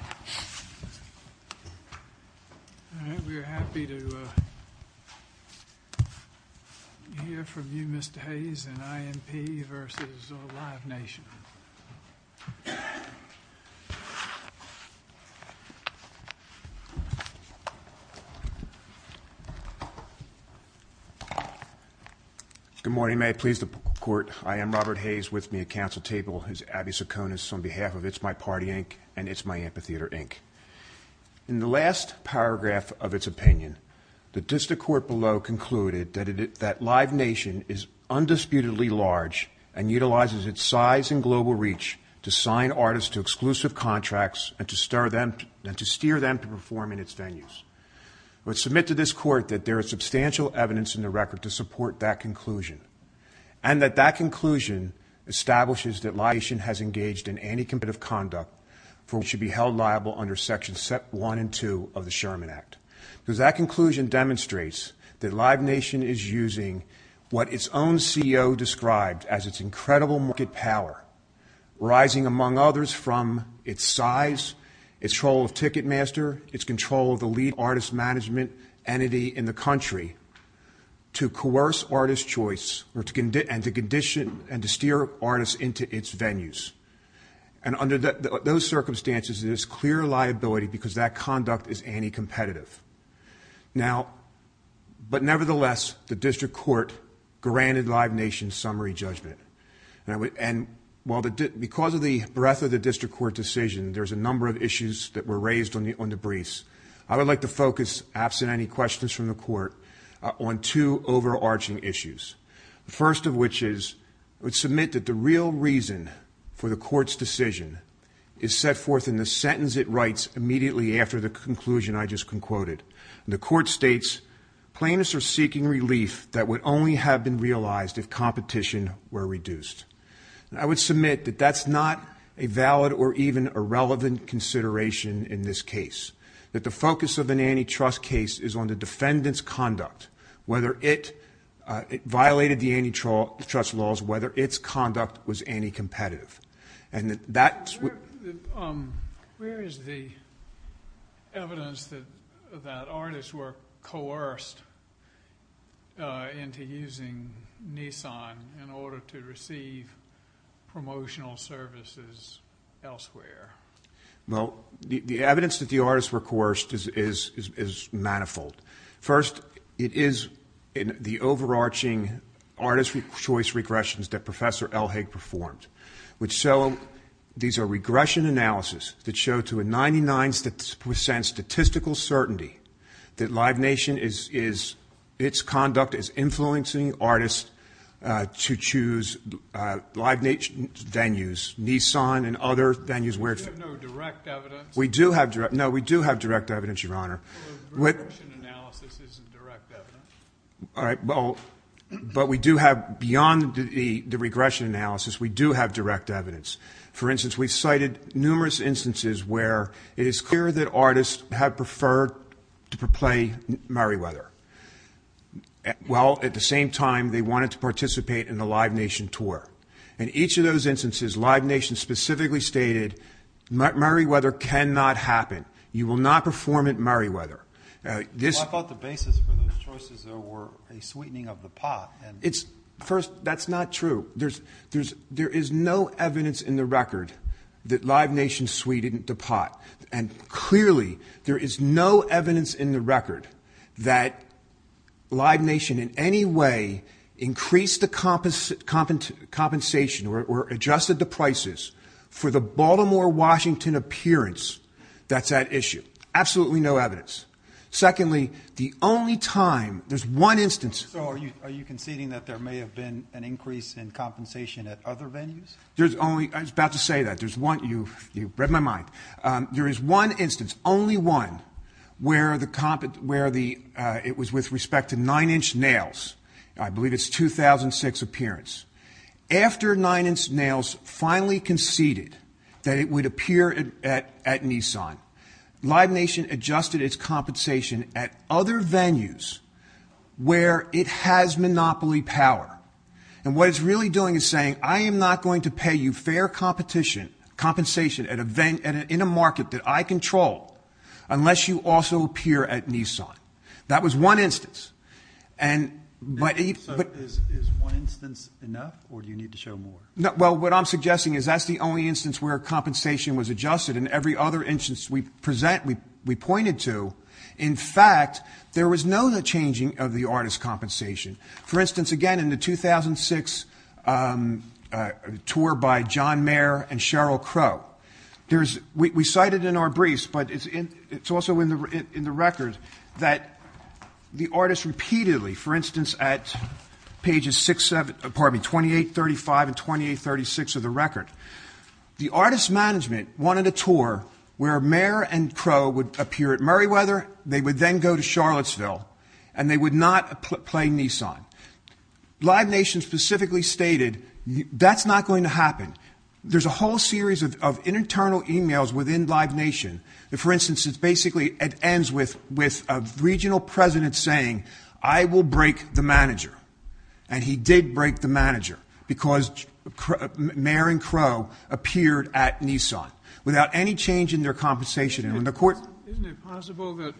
I hope you're happy to hear from you, Mr. Hayes, in INP v. Live Nation. Good morning. May I please the court? I am Robert Hayes. With me at council table is Abby Sokonis on behalf of It's My Party, Inc. and It's My Amphitheater, Inc. In the last paragraph of its opinion, the district court below concluded that Live Nation is undisputedly large and utilizes its size and global reach to sign artists to exclusive contracts and to steer them to perform in its venues. I would submit to this court that there is substantial evidence in the record that Live Nation has engaged in anti-competitive conduct for which it should be held liable under Sections 1 and 2 of the Sherman Act because that conclusion demonstrates that Live Nation is using what its own CEO described as its incredible market power, arising among others from its size, its control of Ticketmaster, its control of the lead artist management entity in the country, to coerce artist choice and to steer artists into its venues. Under those circumstances, there is clear liability because that conduct is anti-competitive. Nevertheless, the district court granted Live Nation's summary judgment. Because of the breadth of the district court decision, there's a number of issues that were raised on the briefs. I would like to focus, absent any questions from the court, on two overarching issues. The first of which is I would submit that the real reason for the court's decision is set forth in the sentence it writes immediately after the conclusion I just concocted. The court states, plaintiffs are seeking relief that would only have been realized if competition were reduced. I would submit that that's not a valid or even a relevant consideration in this case, that the focus of an antitrust case is on the defendant's conduct, whether it violated the antitrust laws, whether its conduct was anti-competitive. Where is the evidence that artists were coerced into using Nissan in order to receive promotional services elsewhere? Well, the evidence that the artists were coerced is manifold. First, it is the overarching artist's choice regressions that Professor Elhage performed. These are regression analyses that show to a 99% statistical certainty that Live Nation, its conduct is influencing artists to choose Live Nation venues, Nissan and other venues. You have no direct evidence? No, we do have direct evidence, Your Honor. Well, regression analysis isn't direct evidence. All right. But we do have, beyond the regression analysis, we do have direct evidence. For instance, we cited numerous instances where it is clear that artists have preferred to play Meriwether. Well, at the same time, they wanted to participate in the Live Nation tour. In each of those instances, Live Nation specifically stated Meriwether cannot happen. You will not perform at Meriwether. Well, I thought the basis for those choices, though, were a sweetening of the pot. First, that's not true. There is no evidence in the record that Live Nation sweetened the pot. Clearly, there is no evidence in the record that Live Nation in any way increased the compensation or adjusted the prices for the Baltimore, Washington appearance that's at issue. Absolutely no evidence. Secondly, the only time, there's one instance. So are you conceding that there may have been an increase in compensation at other venues? I was about to say that. You read my mind. There is one instance, only one, where it was with respect to Nine Inch Nails. I believe it's 2006 appearance. After Nine Inch Nails finally conceded that it would appear at Nissan, Live Nation adjusted its compensation at other venues where it has monopoly power. And what it's really doing is saying, I am not going to pay you fair compensation in a market that I control unless you also appear at Nissan. That was one instance. So is one instance enough, or do you need to show more? Well, what I'm suggesting is that's the only instance where compensation was adjusted. In every other instance we present, we pointed to, in fact, there was no changing of the artist's compensation. For instance, again, in the 2006 tour by John Mayer and Sheryl Crow, we cited in our briefs, but it's also in the record, that the artist repeatedly, for instance, at pages 2835 and 2836 of the record, the artist's management wanted a tour where Mayer and Crow would appear at Murrayweather, they would then go to Charlottesville, and they would not play Nissan. Live Nation specifically stated, that's not going to happen. There's a whole series of internal emails within Live Nation. For instance, it basically ends with a regional president saying, I will break the manager. And he did break the manager because Mayer and Crow appeared at Nissan without any change in their compensation. Isn't it possible that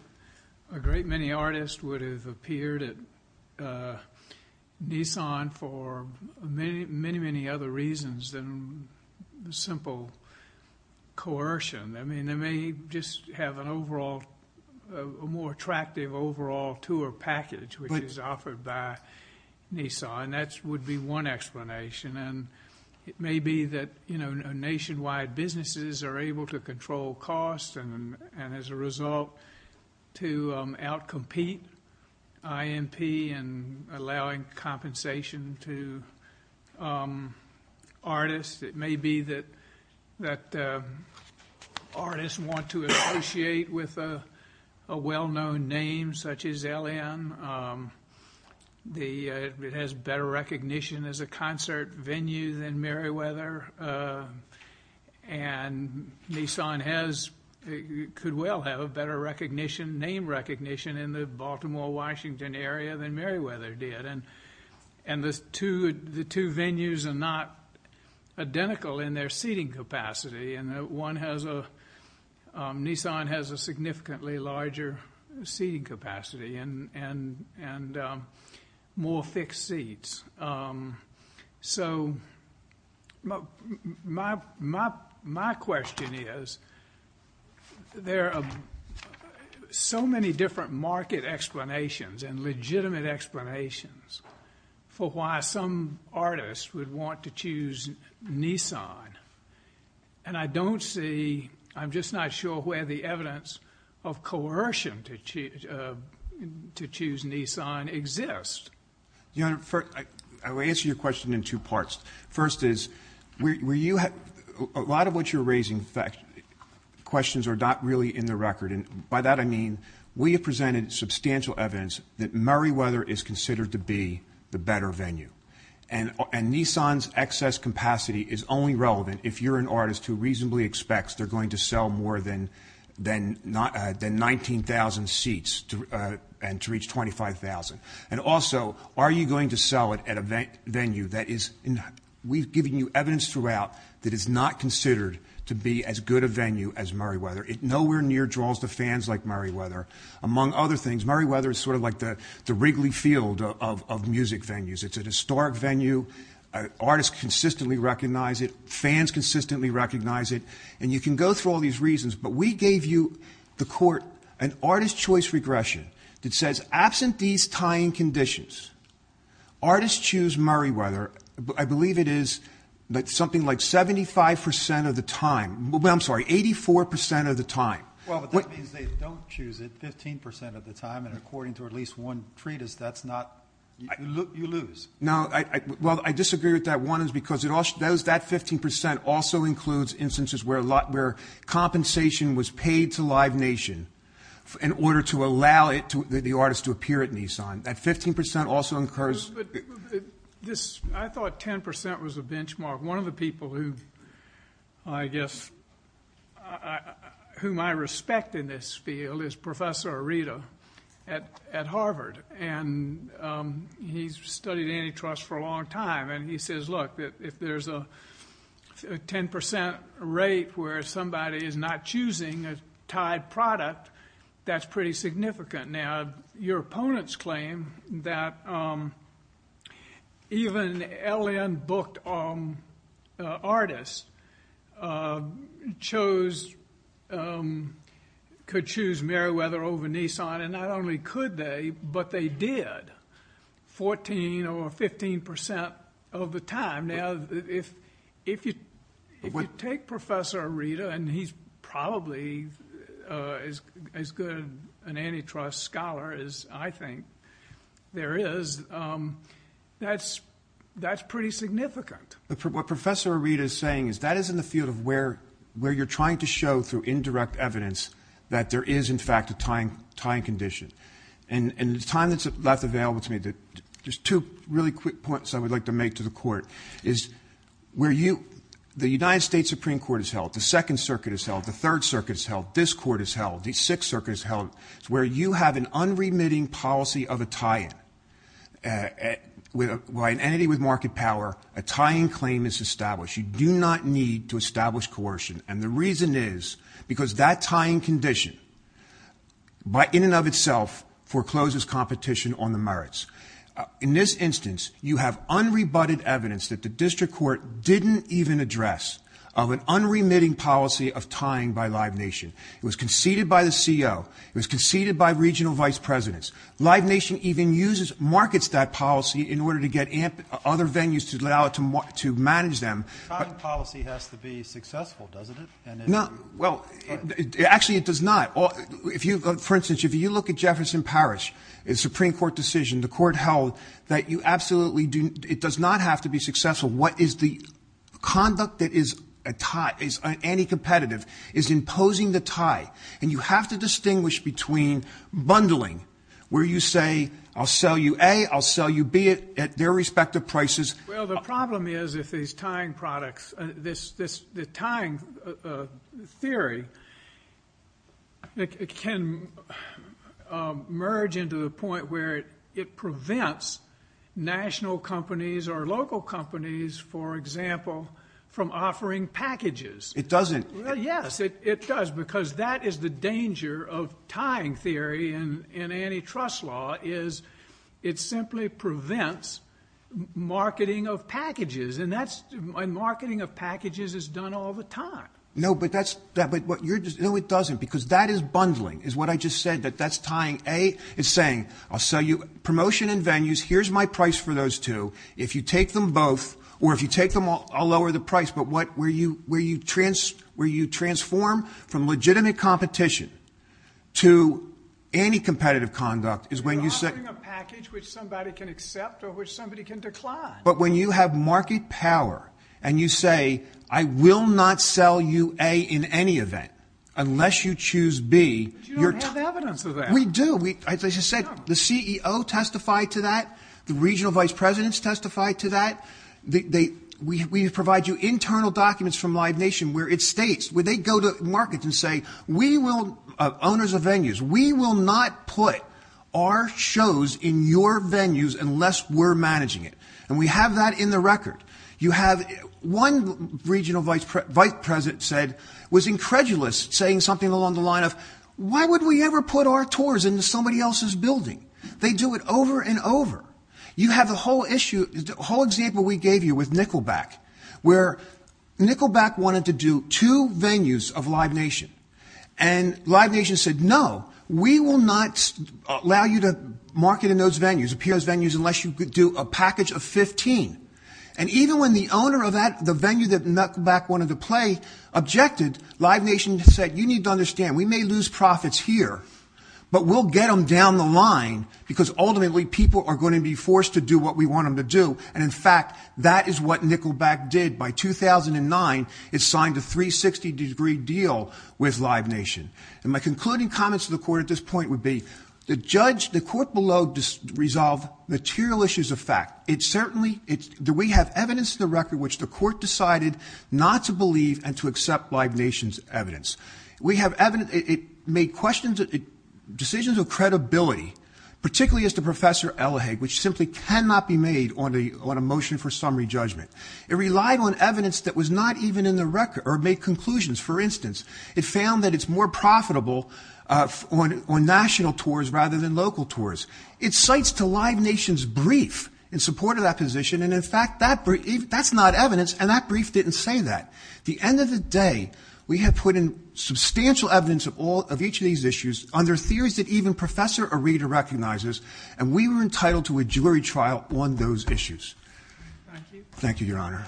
a great many artists would have appeared at Nissan for many, many other reasons than simple coercion? They may just have a more attractive overall tour package, which is offered by Nissan. That would be one explanation. It may be that nationwide businesses are able to control costs, and as a result, to out-compete INP in allowing compensation to artists. It may be that artists want to associate with a well-known name such as LN. It has better recognition as a concert venue than Murrayweather, and Nissan could well have a better name recognition in the Baltimore-Washington area than Murrayweather did. The two venues are not identical in their seating capacity. Nissan has a significantly larger seating capacity. And more fixed seats. So my question is, there are so many different market explanations and legitimate explanations for why some artists would want to choose Nissan. And I don't see, I'm just not sure where the evidence of coercion to choose Nissan exists. Your Honor, I will answer your question in two parts. First is, a lot of what you're raising, questions are not really in the record. And by that I mean, we have presented substantial evidence that Murrayweather is considered to be the better venue. And Nissan's excess capacity is only relevant if you're an artist who reasonably expects they're going to sell more than 19,000 seats to reach 25,000. And also, are you going to sell it at a venue that is, we've given you evidence throughout, that is not considered to be as good a venue as Murrayweather. It nowhere near draws the fans like Murrayweather. Among other things, Murrayweather is sort of like the Wrigley Field of music venues. It's a historic venue. Artists consistently recognize it. Fans consistently recognize it. And you can go through all these reasons, but we gave you, the court, an artist choice regression that says absent these tying conditions, artists choose Murrayweather, I believe it is something like 75% of the time, I'm sorry, 84% of the time. Well, but that means they don't choose it 15% of the time, and according to at least one treatise, that's not, you lose. No, well, I disagree with that. One is because that 15% also includes instances where compensation was paid to Live Nation in order to allow the artist to appear at Nissan. That 15% also incurs. I thought 10% was a benchmark. One of the people who I guess whom I respect in this field is Professor Arita at Harvard, and he's studied antitrust for a long time, and he says, look, if there's a 10% rate where somebody is not choosing a tied product, that's pretty significant. Now, your opponents claim that even LN-booked artists could choose Murrayweather over Nissan, and not only could they, but they did 14% or 15% of the time. If you take Professor Arita, and he's probably as good an antitrust scholar as I think there is, that's pretty significant. What Professor Arita is saying is that is in the field of where you're trying to show through indirect evidence that there is, in fact, a tying condition. The time that's left available to me, just two really quick points I would like to make to the court, is the United States Supreme Court has held, the Second Circuit has held, the Third Circuit has held, this court has held, the Sixth Circuit has held, where you have an unremitting policy of a tie-in. By an entity with market power, a tying claim is established. You do not need to establish coercion, and the reason is because that tying condition in and of itself forecloses competition on the merits. In this instance, you have unrebutted evidence that the district court didn't even address of an unremitting policy of tying by Live Nation. It was conceded by the CO. It was conceded by regional vice presidents. Live Nation even markets that policy in order to get other venues to allow it to manage them. The tying policy has to be successful, doesn't it? No. Well, actually, it does not. For instance, if you look at Jefferson Parish, the Supreme Court decision, the court held that you absolutely do not have to be successful. What is the conduct that is a tie, is anti-competitive, is imposing the tie, and you have to distinguish between bundling, where you say, I'll sell you A, I'll sell you B at their respective prices. Well, the problem is if these tying products, the tying theory can merge into a point where it prevents national companies or local companies, for example, from offering packages. It doesn't. Yes, it does, because that is the danger of tying theory in antitrust law is it simply prevents marketing of packages, and marketing of packages is done all the time. No, but that's what you're just – no, it doesn't, because that is bundling, is what I just said, that that's tying A. It's saying, I'll sell you promotion and venues. Here's my price for those two. If you take them both, or if you take them all, I'll lower the price. But where you transform from legitimate competition to anti-competitive conduct is when you say – You're offering a package which somebody can accept or which somebody can decline. But when you have market power and you say, I will not sell you A in any event unless you choose B – But you don't have evidence of that. We do. As I just said, the CEO testified to that. The regional vice presidents testified to that. We provide you internal documents from Live Nation where it states – where they go to markets and say, owners of venues, we will not put our shows in your venues unless we're managing it. And we have that in the record. One regional vice president said, was incredulous, saying something along the line of, why would we ever put our tours into somebody else's building? They do it over and over. You have the whole issue – the whole example we gave you with Nickelback, where Nickelback wanted to do two venues of Live Nation. And Live Nation said, no, we will not allow you to market in those venues, appear in those venues, unless you do a package of 15. And even when the owner of the venue that Nickelback wanted to play objected, Live Nation said, you need to understand, we may lose profits here, but we'll get them down the line because, ultimately, people are going to be forced to do what we want them to do. And, in fact, that is what Nickelback did. By 2009, it signed a 360-degree deal with Live Nation. And my concluding comments to the court at this point would be, the judge – the court below resolved material issues of fact. It certainly – we have evidence in the record which the court decided not to believe and to accept Live Nation's evidence. We have evidence – it made questions – decisions of credibility, particularly as to Professor Elhage, which simply cannot be made on a motion for summary judgment. It relied on evidence that was not even in the record – or made conclusions. For instance, it found that it's more profitable on national tours rather than local tours. It cites to Live Nation's brief in support of that position, and, in fact, that's not evidence, and that brief didn't say that. At the end of the day, we have put in substantial evidence of each of these issues under theories that even Professor Arita recognizes, and we were entitled to a jury trial on those issues. Thank you, Your Honor.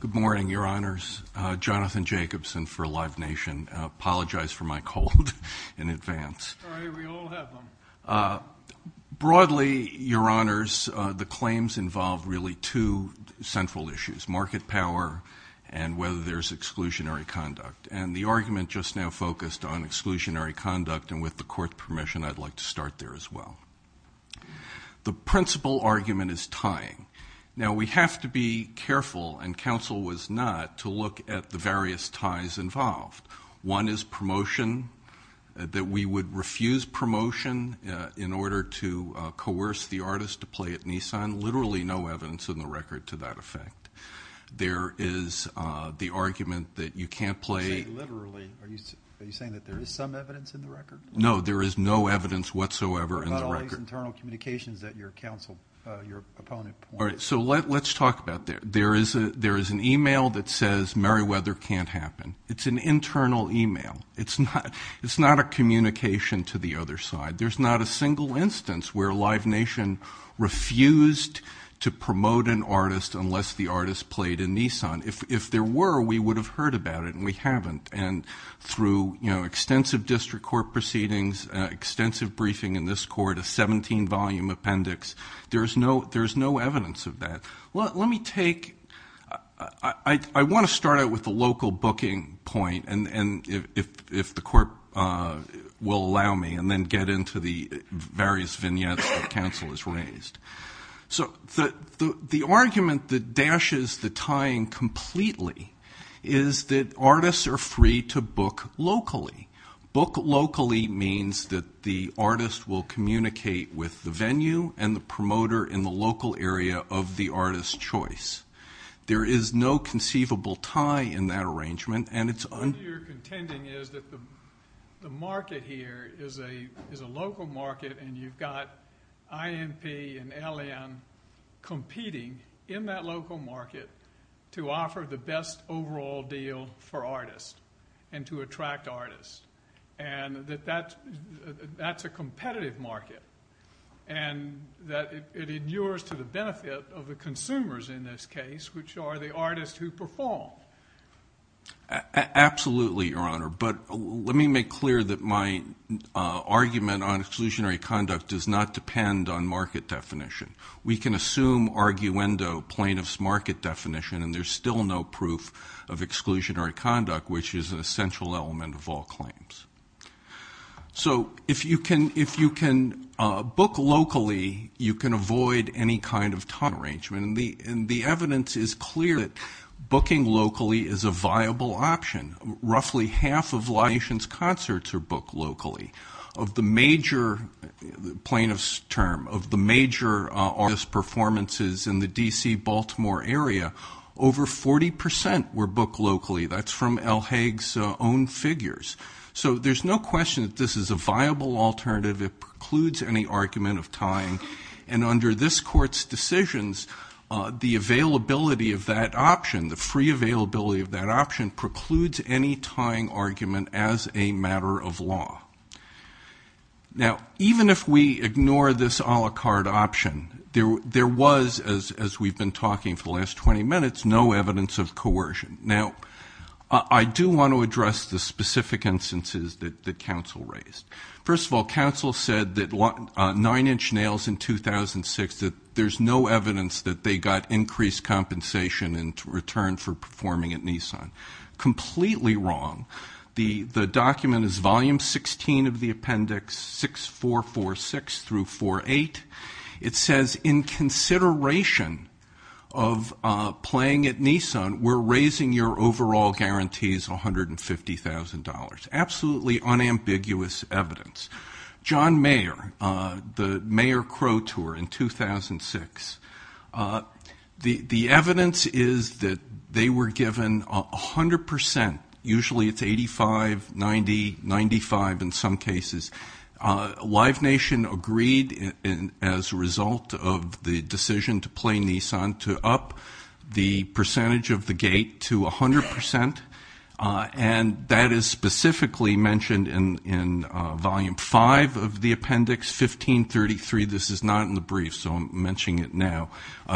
Good morning, Your Honors. Jonathan Jacobson for Live Nation. Apologize for my cold in advance. Sorry, we all have them. Broadly, Your Honors, the claims involve really two central issues, market power and whether there's exclusionary conduct. And the argument just now focused on exclusionary conduct, and with the court's permission, I'd like to start there as well. The principal argument is tying. Now, we have to be careful, and counsel was not, to look at the various ties involved. One is promotion, that we would refuse promotion in order to coerce the artist to play at Nissan. Literally no evidence in the record to that effect. There is the argument that you can't play. You say literally. Are you saying that there is some evidence in the record? No, there is no evidence whatsoever in the record. So let's talk about that. There is an e-mail that says Meriwether can't happen. It's an internal e-mail. It's not a communication to the other side. There's not a single instance where Live Nation refused to promote an artist unless the artist played in Nissan. If there were, we would have heard about it, and we haven't. And through extensive district court proceedings, extensive briefing in this court, a 17-volume appendix, there's no evidence of that. Let me take – I want to start out with the local booking point, if the court will allow me, and then get into the various vignettes that counsel has raised. So the argument that dashes the tying completely is that artists are free to book locally. Book locally means that the artist will communicate with the venue and the promoter in the local area of the artist's choice. There is no conceivable tie in that arrangement, and it's – What you're contending is that the market here is a local market, and you've got INP and LN competing in that local market to offer the best overall deal for artists and to attract artists, and that that's a competitive market, and that it endures to the benefit of the consumers in this case, which are the artists who perform. Absolutely, Your Honor, but let me make clear that my argument on exclusionary conduct does not depend on market definition. We can assume arguendo plaintiff's market definition, and there's still no proof of exclusionary conduct, which is an essential element of all claims. So if you can book locally, you can avoid any kind of tie arrangement, and the evidence is clear that booking locally is a viable option. Roughly half of the nation's concerts are booked locally. Of the major plaintiff's term, of the major artist's performances in the D.C.-Baltimore area, over 40 percent were booked locally. That's from L. Haig's own figures. So there's no question that this is a viable alternative. It precludes any argument of tying, and under this Court's decisions, the availability of that option, the free availability of that option precludes any tying argument as a matter of law. Now, even if we ignore this a la carte option, there was, as we've been talking for the last 20 minutes, no evidence of coercion. Now, I do want to address the specific instances that counsel raised. First of all, counsel said that Nine Inch Nails in 2006, that there's no evidence that they got increased compensation in return for performing at Nissan. Completely wrong. The document is Volume 16 of the Appendix 6446-48. It says, in consideration of playing at Nissan, we're raising your overall guarantees $150,000. Absolutely unambiguous evidence. John Mayer, the Mayer Crow Tour in 2006, the evidence is that they were given 100 percent. Usually it's 85, 90, 95 in some cases. Live Nation agreed, as a result of the decision to play Nissan, to up the percentage of the gate to 100 percent, and that is specifically mentioned in Volume 5 of the Appendix 1533. This is not in the brief, so I'm mentioning it now.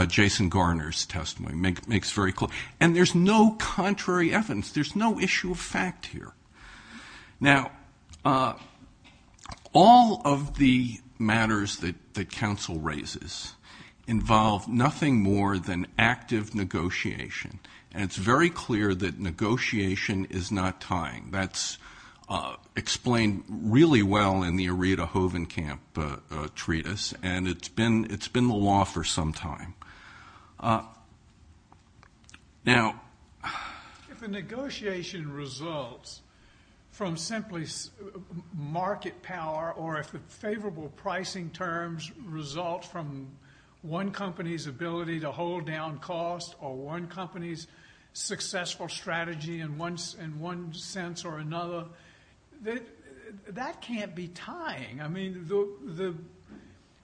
Jason Garner's testimony makes very clear. And there's no contrary evidence. There's no issue of fact here. Now, all of the matters that counsel raises involve nothing more than active negotiation, and it's very clear that negotiation is not tying. That's explained really well in the Aretha Hovenkamp treatise, and it's been the law for some time. Now, if a negotiation results from simply market power, or if the favorable pricing terms result from one company's ability to hold down cost, or one company's successful strategy in one sense or another, that can't be tying. I mean,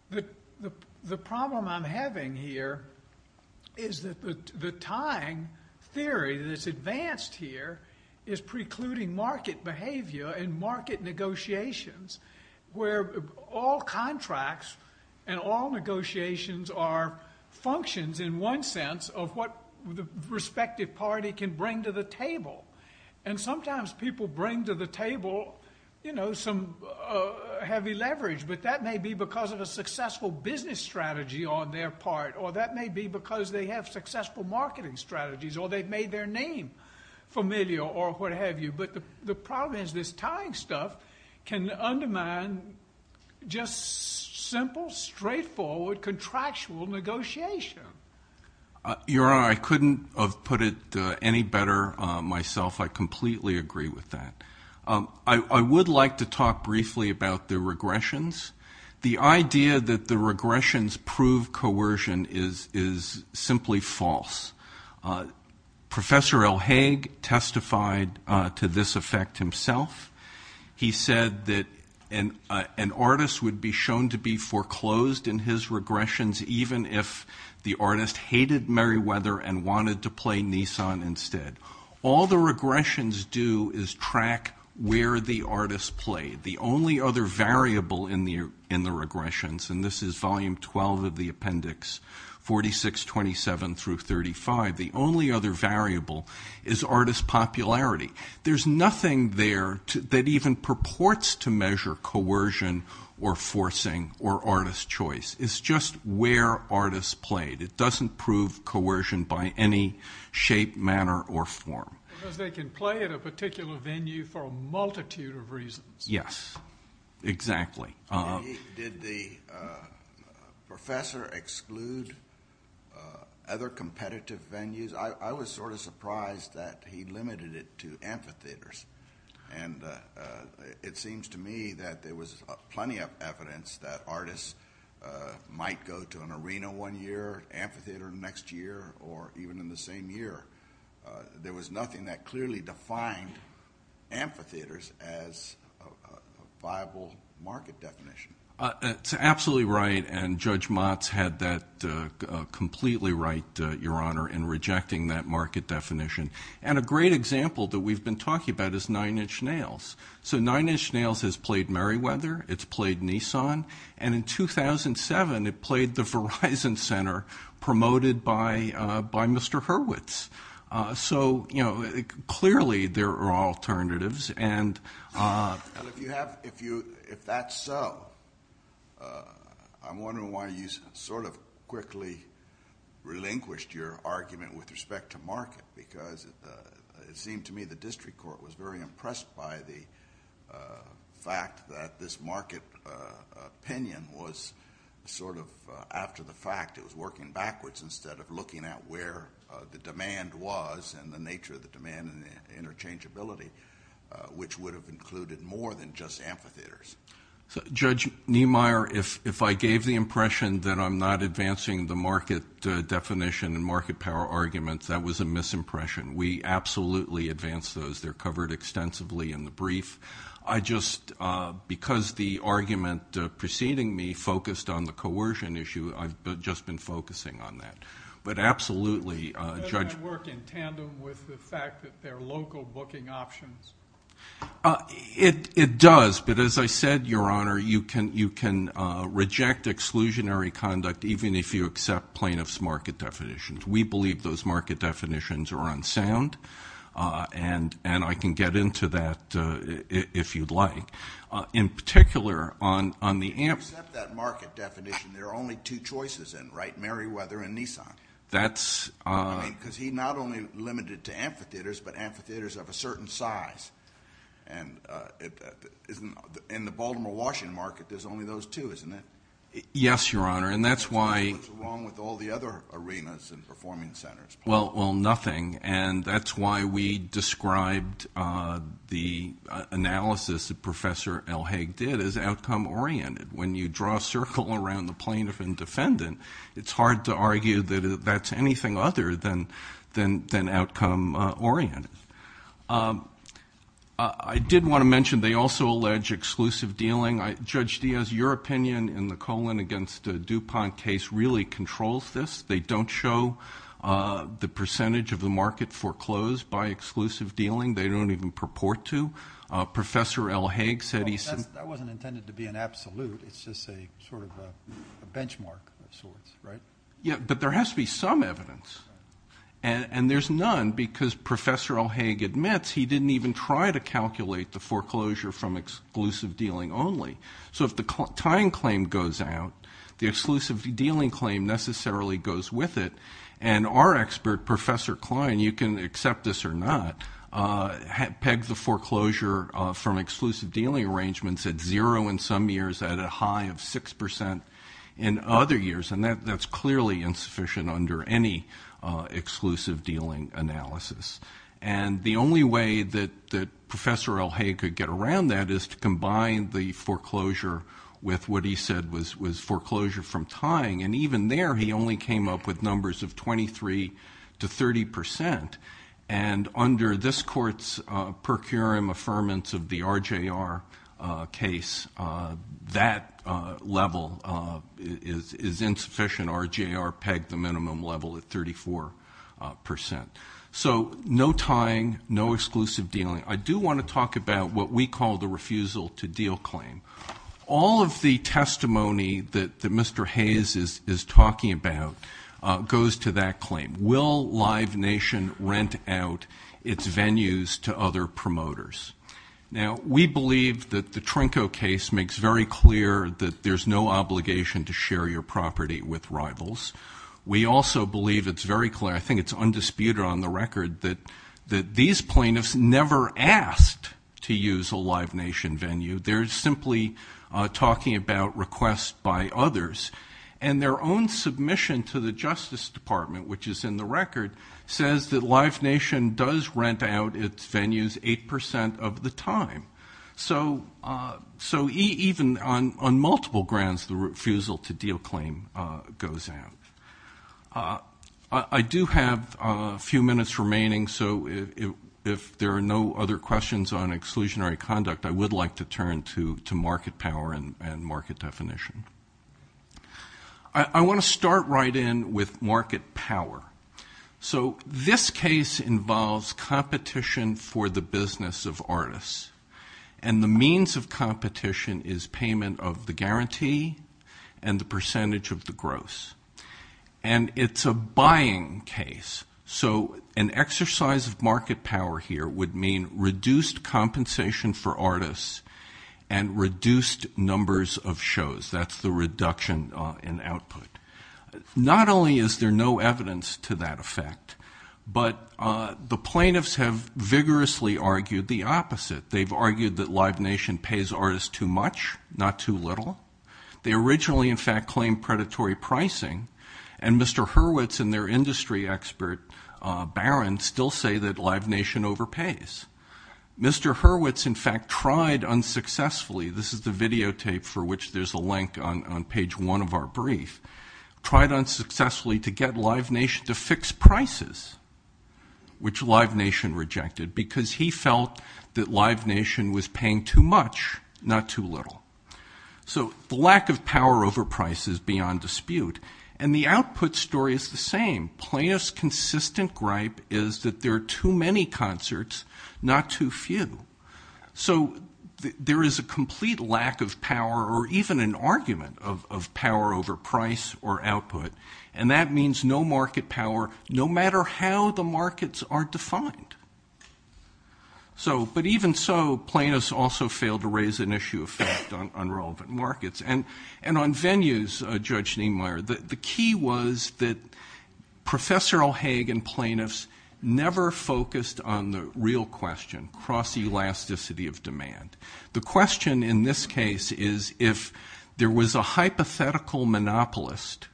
the problem I'm having here is that the tying theory that's advanced here is precluding market behavior and market negotiations, where all contracts and all negotiations are functions, in one sense, of what the respective party can bring to the table. And sometimes people bring to the table, you know, some heavy leverage, but that may be because of a successful business strategy on their part, or that may be because they have successful marketing strategies, or they've made their name familiar or what have you. But the problem is this tying stuff can undermine just simple, straightforward, contractual negotiation. Your Honor, I couldn't have put it any better myself. I completely agree with that. I would like to talk briefly about the regressions. The idea that the regressions prove coercion is simply false. Professor L. Haig testified to this effect himself. He said that an artist would be shown to be foreclosed in his regressions even if the artist hated Meriwether and wanted to play Nissan instead. All the regressions do is track where the artist played. The only other variable in the regressions, and this is Volume 12 of the Appendix 4627-35, the only other variable is artist popularity. There's nothing there that even purports to measure coercion or forcing or artist choice. It's just where artists played. It doesn't prove coercion by any shape, manner, or form. Because they can play at a particular venue for a multitude of reasons. Yes, exactly. Did the professor exclude other competitive venues? I was sort of surprised that he limited it to amphitheaters. It seems to me that there was plenty of evidence that artists might go to an arena one year, amphitheater the next year, or even in the same year. There was nothing that clearly defined amphitheaters as a viable market definition. That's absolutely right, and Judge Motz had that completely right, Your Honor, in rejecting that market definition. A great example that we've been talking about is Nine Inch Nails. Nine Inch Nails has played Merriweather. It's played Nissan. In 2007, it played the Verizon Center, promoted by Mr. Hurwitz. Clearly, there are alternatives. If that's so, I'm wondering why you sort of quickly relinquished your argument with respect to market. Because it seemed to me the district court was very impressed by the fact that this market opinion was sort of after the fact. It was working backwards instead of looking at where the demand was and the nature of the demand and interchangeability, which would have included more than just amphitheaters. Judge Niemeyer, if I gave the impression that I'm not advancing the market definition and market power arguments, that was a misimpression. We absolutely advance those. They're covered extensively in the brief. I just, because the argument preceding me focused on the coercion issue, I've just been focusing on that. But absolutely, Judge. Does that work in tandem with the fact that there are local booking options? It does, but as I said, Your Honor, you can reject exclusionary conduct, even if you accept plaintiff's market definitions. We believe those market definitions are unsound, and I can get into that if you'd like. In particular, on the amphitheaters. If you accept that market definition, there are only two choices then, right? Merriweather and Nissan. Because he not only limited to amphitheaters, but amphitheaters of a certain size. In the Baltimore-Washington market, there's only those two, isn't there? Yes, Your Honor, and that's why. What's wrong with all the other arenas and performing centers? Well, nothing. And that's why we described the analysis that Professor Elhague did as outcome-oriented. When you draw a circle around the plaintiff and defendant, it's hard to argue that that's anything other than outcome-oriented. I did want to mention they also allege exclusive dealing. Judge Diaz, your opinion in the Colin v. DuPont case really controls this. They don't show the percentage of the market foreclosed by exclusive dealing. They don't even purport to. Professor Elhague said he said that. That wasn't intended to be an absolute. It's just sort of a benchmark of sorts, right? Yeah, but there has to be some evidence, and there's none, because Professor Elhague admits he didn't even try to calculate the foreclosure from exclusive dealing only. So if the tying claim goes out, the exclusive dealing claim necessarily goes with it, and our expert, Professor Klein, you can accept this or not, pegged the foreclosure from exclusive dealing arrangements at zero in some years, at a high of 6% in other years, and that's clearly insufficient under any exclusive dealing analysis. The only way that Professor Elhague could get around that is to combine the foreclosure with what he said was foreclosure from tying, and even there he only came up with numbers of 23% to 30%, and under this Court's per curiam affirmance of the RJR case, that level is insufficient. RJR pegged the minimum level at 34%. So no tying, no exclusive dealing. I do want to talk about what we call the refusal to deal claim. All of the testimony that Mr. Hayes is talking about goes to that claim. Will Live Nation rent out its venues to other promoters? Now, we believe that the Trinko case makes very clear We also believe it's very clear, I think it's undisputed on the record, that these plaintiffs never asked to use a Live Nation venue. They're simply talking about requests by others, and their own submission to the Justice Department, which is in the record, says that Live Nation does rent out its venues 8% of the time. So even on multiple grounds, the refusal to deal claim goes out. I do have a few minutes remaining, so if there are no other questions on exclusionary conduct, I would like to turn to market power and market definition. I want to start right in with market power. So this case involves competition for the business of artists. And the means of competition is payment of the guarantee and the percentage of the gross. And it's a buying case. So an exercise of market power here would mean reduced compensation for artists and reduced numbers of shows. That's the reduction in output. Not only is there no evidence to that effect, but the plaintiffs have vigorously argued the opposite. They've argued that Live Nation pays artists too much, not too little. They originally, in fact, claimed predatory pricing. And Mr. Hurwitz and their industry expert, Barron, still say that Live Nation overpays. Mr. Hurwitz, in fact, tried unsuccessfully. This is the videotape for which there's a link on page one of our brief. Tried unsuccessfully to get Live Nation to fix prices, which Live Nation rejected because he felt that Live Nation was paying too much, not too little. So the lack of power over price is beyond dispute. And the output story is the same. Plaintiff's consistent gripe is that there are too many concerts, not too few. So there is a complete lack of power or even an argument of power over price or output. And that means no market power, no matter how the markets are defined. But even so, plaintiffs also fail to raise an issue of fact on relevant markets. And on venues, Judge Neimeyer, the key was that Professor O'Hagan plaintiffs never focused on the real question, cross-elasticity of demand. The question in this case is, if there was a hypothetical monopolist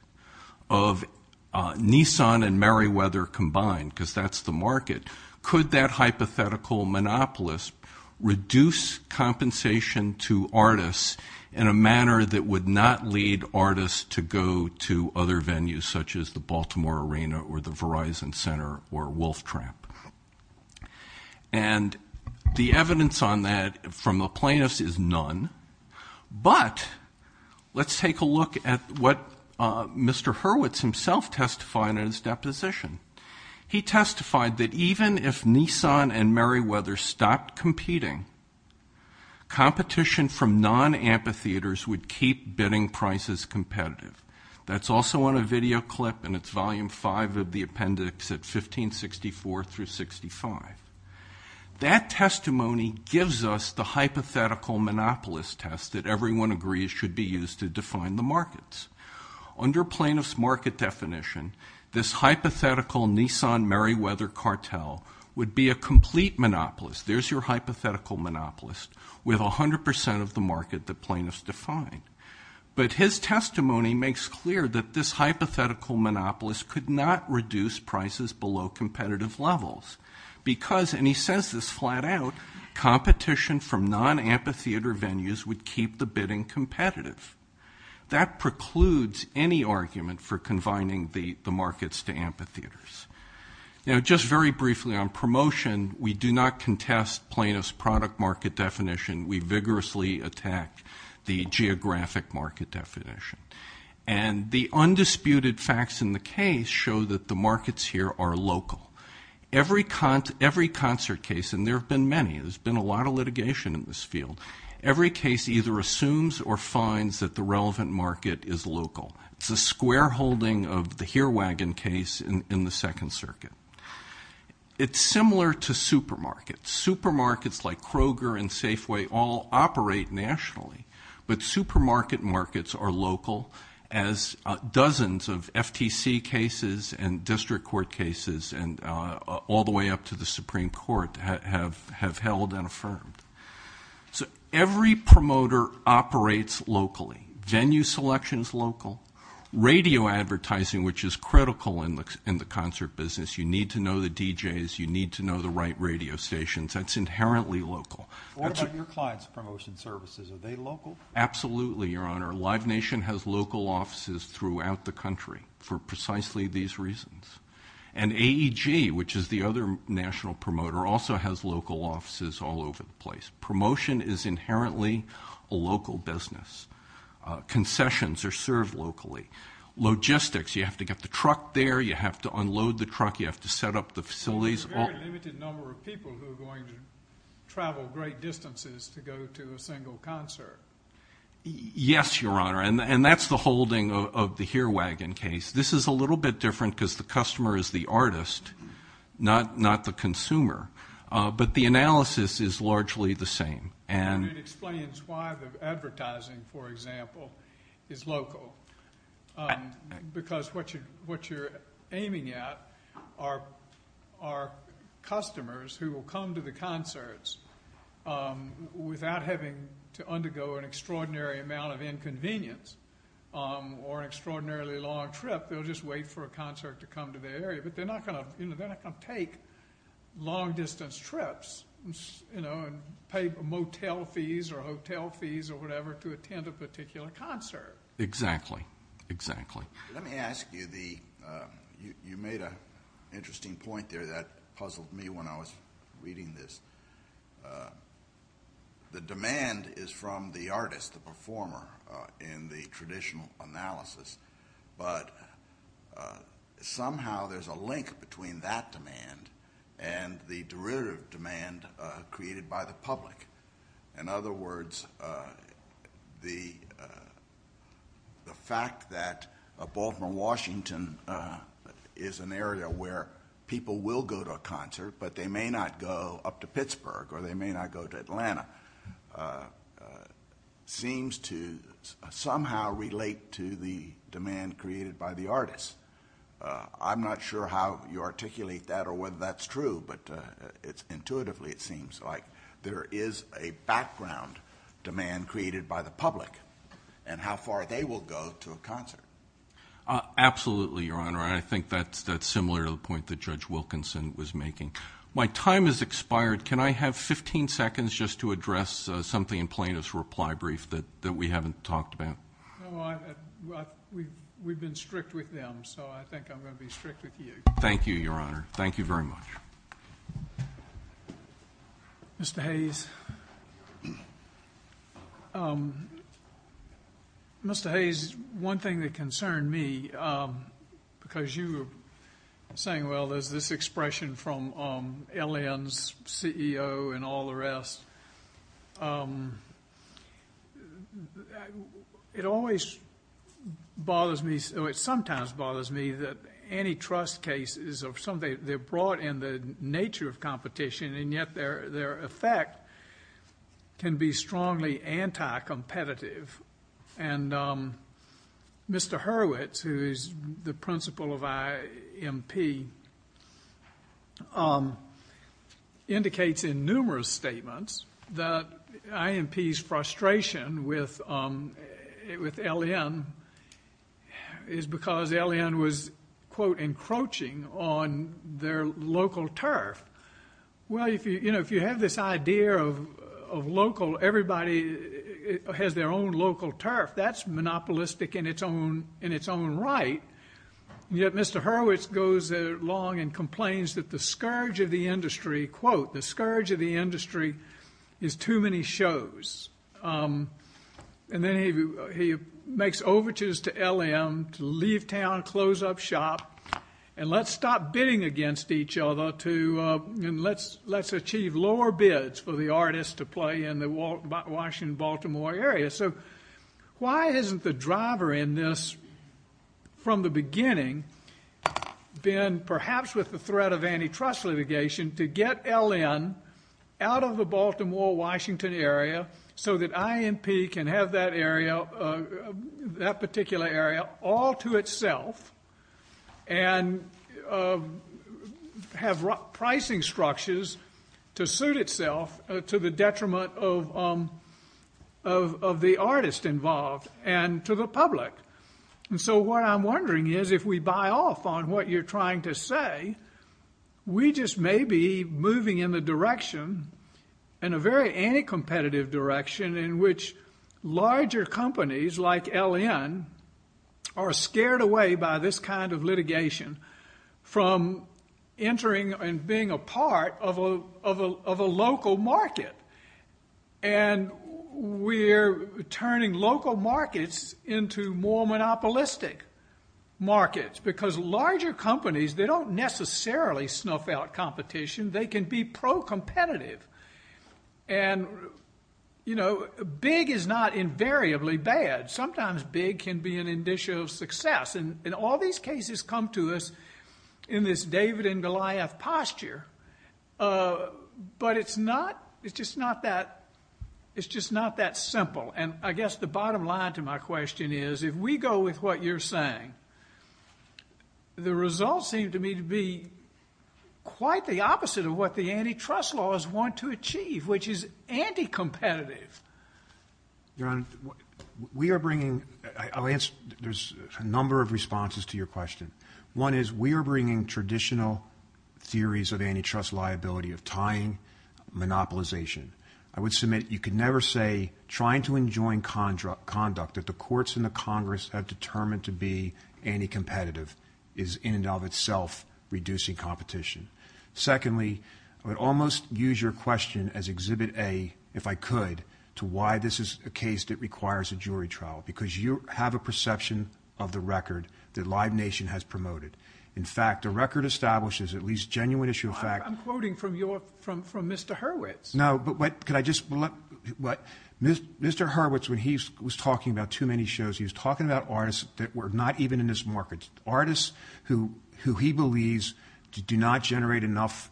of Nissan and Meriwether combined, because that's the market, could that hypothetical monopolist reduce compensation to artists in a manner that would not lead artists to go to other venues, such as the Baltimore Arena or the Verizon Center or Wolf Tramp? And the evidence on that from the plaintiffs is none. But let's take a look at what Mr. Hurwitz himself testified in his deposition. He testified that even if Nissan and Meriwether stopped competing, competition from non-amphitheaters would keep bidding prices competitive. That's also on a video clip, and it's volume five of the appendix at 1564-65. That testimony gives us the hypothetical monopolist test that everyone agrees should be used to define the markets. Under plaintiffs' market definition, this hypothetical Nissan-Meriwether cartel would be a complete monopolist. There's your hypothetical monopolist with 100% of the market that plaintiffs define. But his testimony makes clear that this hypothetical monopolist could not reduce prices below competitive levels because, and he says this flat out, competition from non-amphitheater venues would keep the bidding competitive. That precludes any argument for combining the markets to amphitheaters. Now, just very briefly on promotion, we do not contest plaintiffs' product market definition. We vigorously attack the geographic market definition. And the undisputed facts in the case show that the markets here are local. Every concert case, and there have been many, there's been a lot of litigation in this field, every case either assumes or finds that the relevant market is local. It's a square holding of the Heerwagen case in the Second Circuit. It's similar to supermarkets. Supermarkets like Kroger and Safeway all operate nationally, but supermarket markets are local, as dozens of FTC cases and district court cases and all the way up to the Supreme Court have held and affirmed. So every promoter operates locally. Venue selection is local. Radio advertising, which is critical in the concert business, you need to know the DJs, you need to know the right radio stations. That's inherently local. What about your clients' promotion services? Are they local? Absolutely, Your Honor. Live Nation has local offices throughout the country for precisely these reasons. And AEG, which is the other national promoter, also has local offices all over the place. Promotion is inherently a local business. Concessions are served locally. Logistics, you have to get the truck there, you have to unload the truck, you have to set up the facilities. There's a very limited number of people who are going to travel great distances to go to a single concert. Yes, Your Honor, and that's the holding of the Heerwagen case. This is a little bit different because the customer is the artist, not the consumer. But the analysis is largely the same. And it explains why the advertising, for example, is local, because what you're aiming at are customers who will come to the concerts without having to undergo an extraordinary amount of inconvenience or an extraordinarily long trip. They'll just wait for a concert to come to their area. But they're not going to take long-distance trips and pay motel fees or hotel fees or whatever to attend a particular concert. Exactly, exactly. Let me ask you, you made an interesting point there that puzzled me when I was reading this. The demand is from the artist, the performer, in the traditional analysis, but somehow there's a link between that demand and the derivative demand created by the public. In other words, the fact that Baltimore, Washington, is an area where people will go to a concert, but they may not go up to Pittsburgh or they may not go to Atlanta, seems to somehow relate to the demand created by the artist. I'm not sure how you articulate that or whether that's true, but intuitively it seems like there is a background demand created by the public and how far they will go to a concert. Absolutely, Your Honor, and I think that's similar to the point that Judge Wilkinson was making. My time has expired. Can I have 15 seconds just to address something in plaintiff's reply brief that we haven't talked about? No, we've been strict with them, so I think I'm going to be strict with you. Thank you, Your Honor. Thank you very much. Mr. Hayes. Mr. Hayes, one thing that concerned me, because you were saying, well, there's this expression from LN's CEO and all the rest. It always bothers me, or it sometimes bothers me, that antitrust cases, they're brought in the nature of competition and yet their effect can be strongly anti-competitive. And Mr. Hurwitz, who is the principal of IMP, indicates in numerous statements that IMP's frustration with LN is because LN was, quote, encroaching on their local turf. Well, if you have this idea of everybody has their own local turf, that's monopolistic in its own right. Yet Mr. Hurwitz goes along and complains that the scourge of the industry, quote, the scourge of the industry is too many shows. And then he makes overtures to LN to leave town, close up shop, and let's stop bidding against each other and let's achieve lower bids for the artists to play in the Washington-Baltimore area. So why isn't the driver in this from the beginning been perhaps with the threat of antitrust litigation to get LN out of the Baltimore-Washington area so that IMP can have that area, that particular area, all to itself and have pricing structures to suit itself to the detriment of the artist involved and to the public? And so what I'm wondering is if we buy off on what you're trying to say, we just may be moving in the direction, in a very anti-competitive direction, in which larger companies like LN are scared away by this kind of litigation from entering and being a part of a local market. And we're turning local markets into more monopolistic markets because larger companies, they don't necessarily snuff out competition. They can be pro-competitive. And big is not invariably bad. Sometimes big can be an indicia of success. And all these cases come to us in this David and Goliath posture, but it's just not that simple. And I guess the bottom line to my question is if we go with what you're saying, the results seem to me to be quite the opposite of what the antitrust laws want to achieve, which is anti-competitive. Your Honor, we are bringing a number of responses to your question. One is we are bringing traditional theories of antitrust liability, of tying, monopolization. I would submit you could never say trying to enjoin conduct that the courts and the Congress have determined to be anti-competitive is in and of itself reducing competition. Secondly, I would almost use your question as Exhibit A, if I could, to why this is a case that requires a jury trial, because you have a perception of the record that Live Nation has promoted. In fact, the record establishes at least genuine issue of fact. I'm quoting from Mr. Hurwitz. No, but could I just? Mr. Hurwitz, when he was talking about too many shows, he was talking about artists that were not even in this market, artists who he believes do not generate enough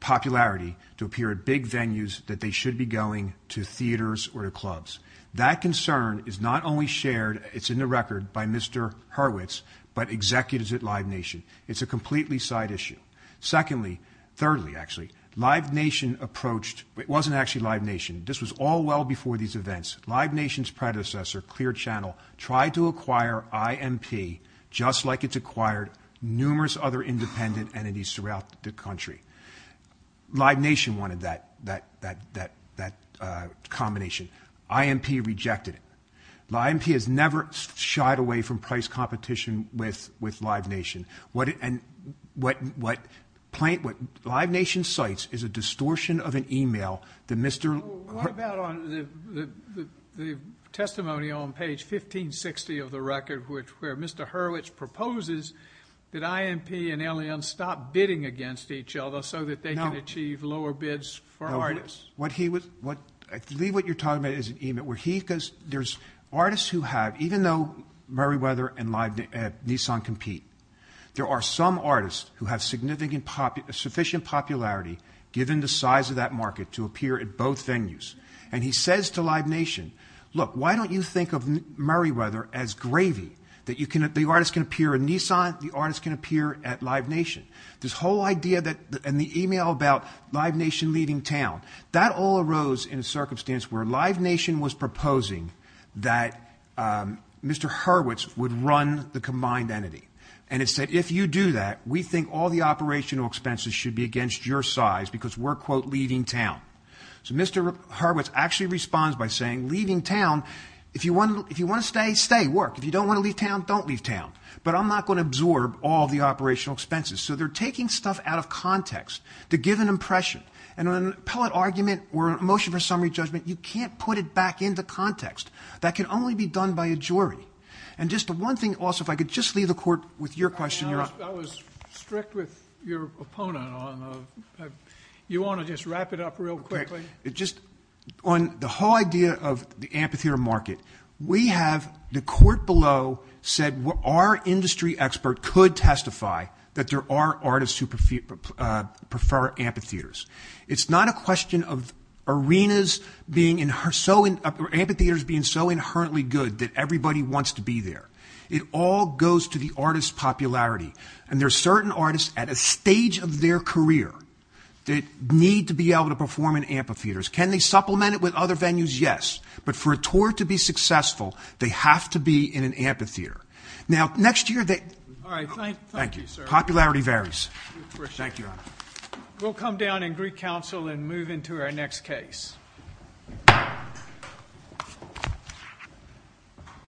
popularity to appear at big venues that they should be going to theaters or to clubs. That concern is not only shared, it's in the record, by Mr. Hurwitz, but executives at Live Nation. It's a completely side issue. Secondly, thirdly, actually, Live Nation approached. It wasn't actually Live Nation. This was all well before these events. Live Nation's predecessor, Clear Channel, tried to acquire IMP, just like it's acquired numerous other independent entities throughout the country. Live Nation wanted that combination. IMP rejected it. IMP has never shied away from price competition with Live Nation. What Live Nation cites is a distortion of an email that Mr. Hurwitz. What about on the testimony on page 1560 of the record, where Mr. Hurwitz proposes that IMP and LN stop bidding against each other so that they can achieve lower bids for artists? No. I believe what you're talking about is an email. There's artists who have, even though Murrayweather and Nissan compete, there are some artists who have sufficient popularity, given the size of that market, to appear at both venues. He says to Live Nation, look, why don't you think of Murrayweather as gravy, that the artist can appear at Nissan, the artist can appear at Live Nation? This whole idea and the email about Live Nation leaving town, that all arose in a circumstance where Live Nation was proposing that Mr. Hurwitz would run the combined entity, and it said, if you do that, we think all the operational expenses should be against your size because we're, quote, leaving town. So Mr. Hurwitz actually responds by saying, leaving town, if you want to stay, stay, work. If you don't want to leave town, don't leave town. But I'm not going to absorb all the operational expenses. So they're taking stuff out of context to give an impression. And in an appellate argument or a motion for summary judgment, you can't put it back into context. That can only be done by a jury. And just one thing also, if I could just leave the court with your question. I was strict with your opponent on the, you want to just wrap it up real quickly? Just on the whole idea of the amphitheater market, we have the court below said our industry expert could testify that there are artists who prefer amphitheaters. It's not a question of arenas being so, amphitheaters being so inherently good that everybody wants to be there. It all goes to the artist's popularity. And there are certain artists at a stage of their career that need to be able to perform in amphitheaters. Can they supplement it with other venues? Yes. But for a tour to be successful, they have to be in an amphitheater. All right. Thank you, sir. Thank you. Popularity varies. We'll come down in Greek council and move into our next case.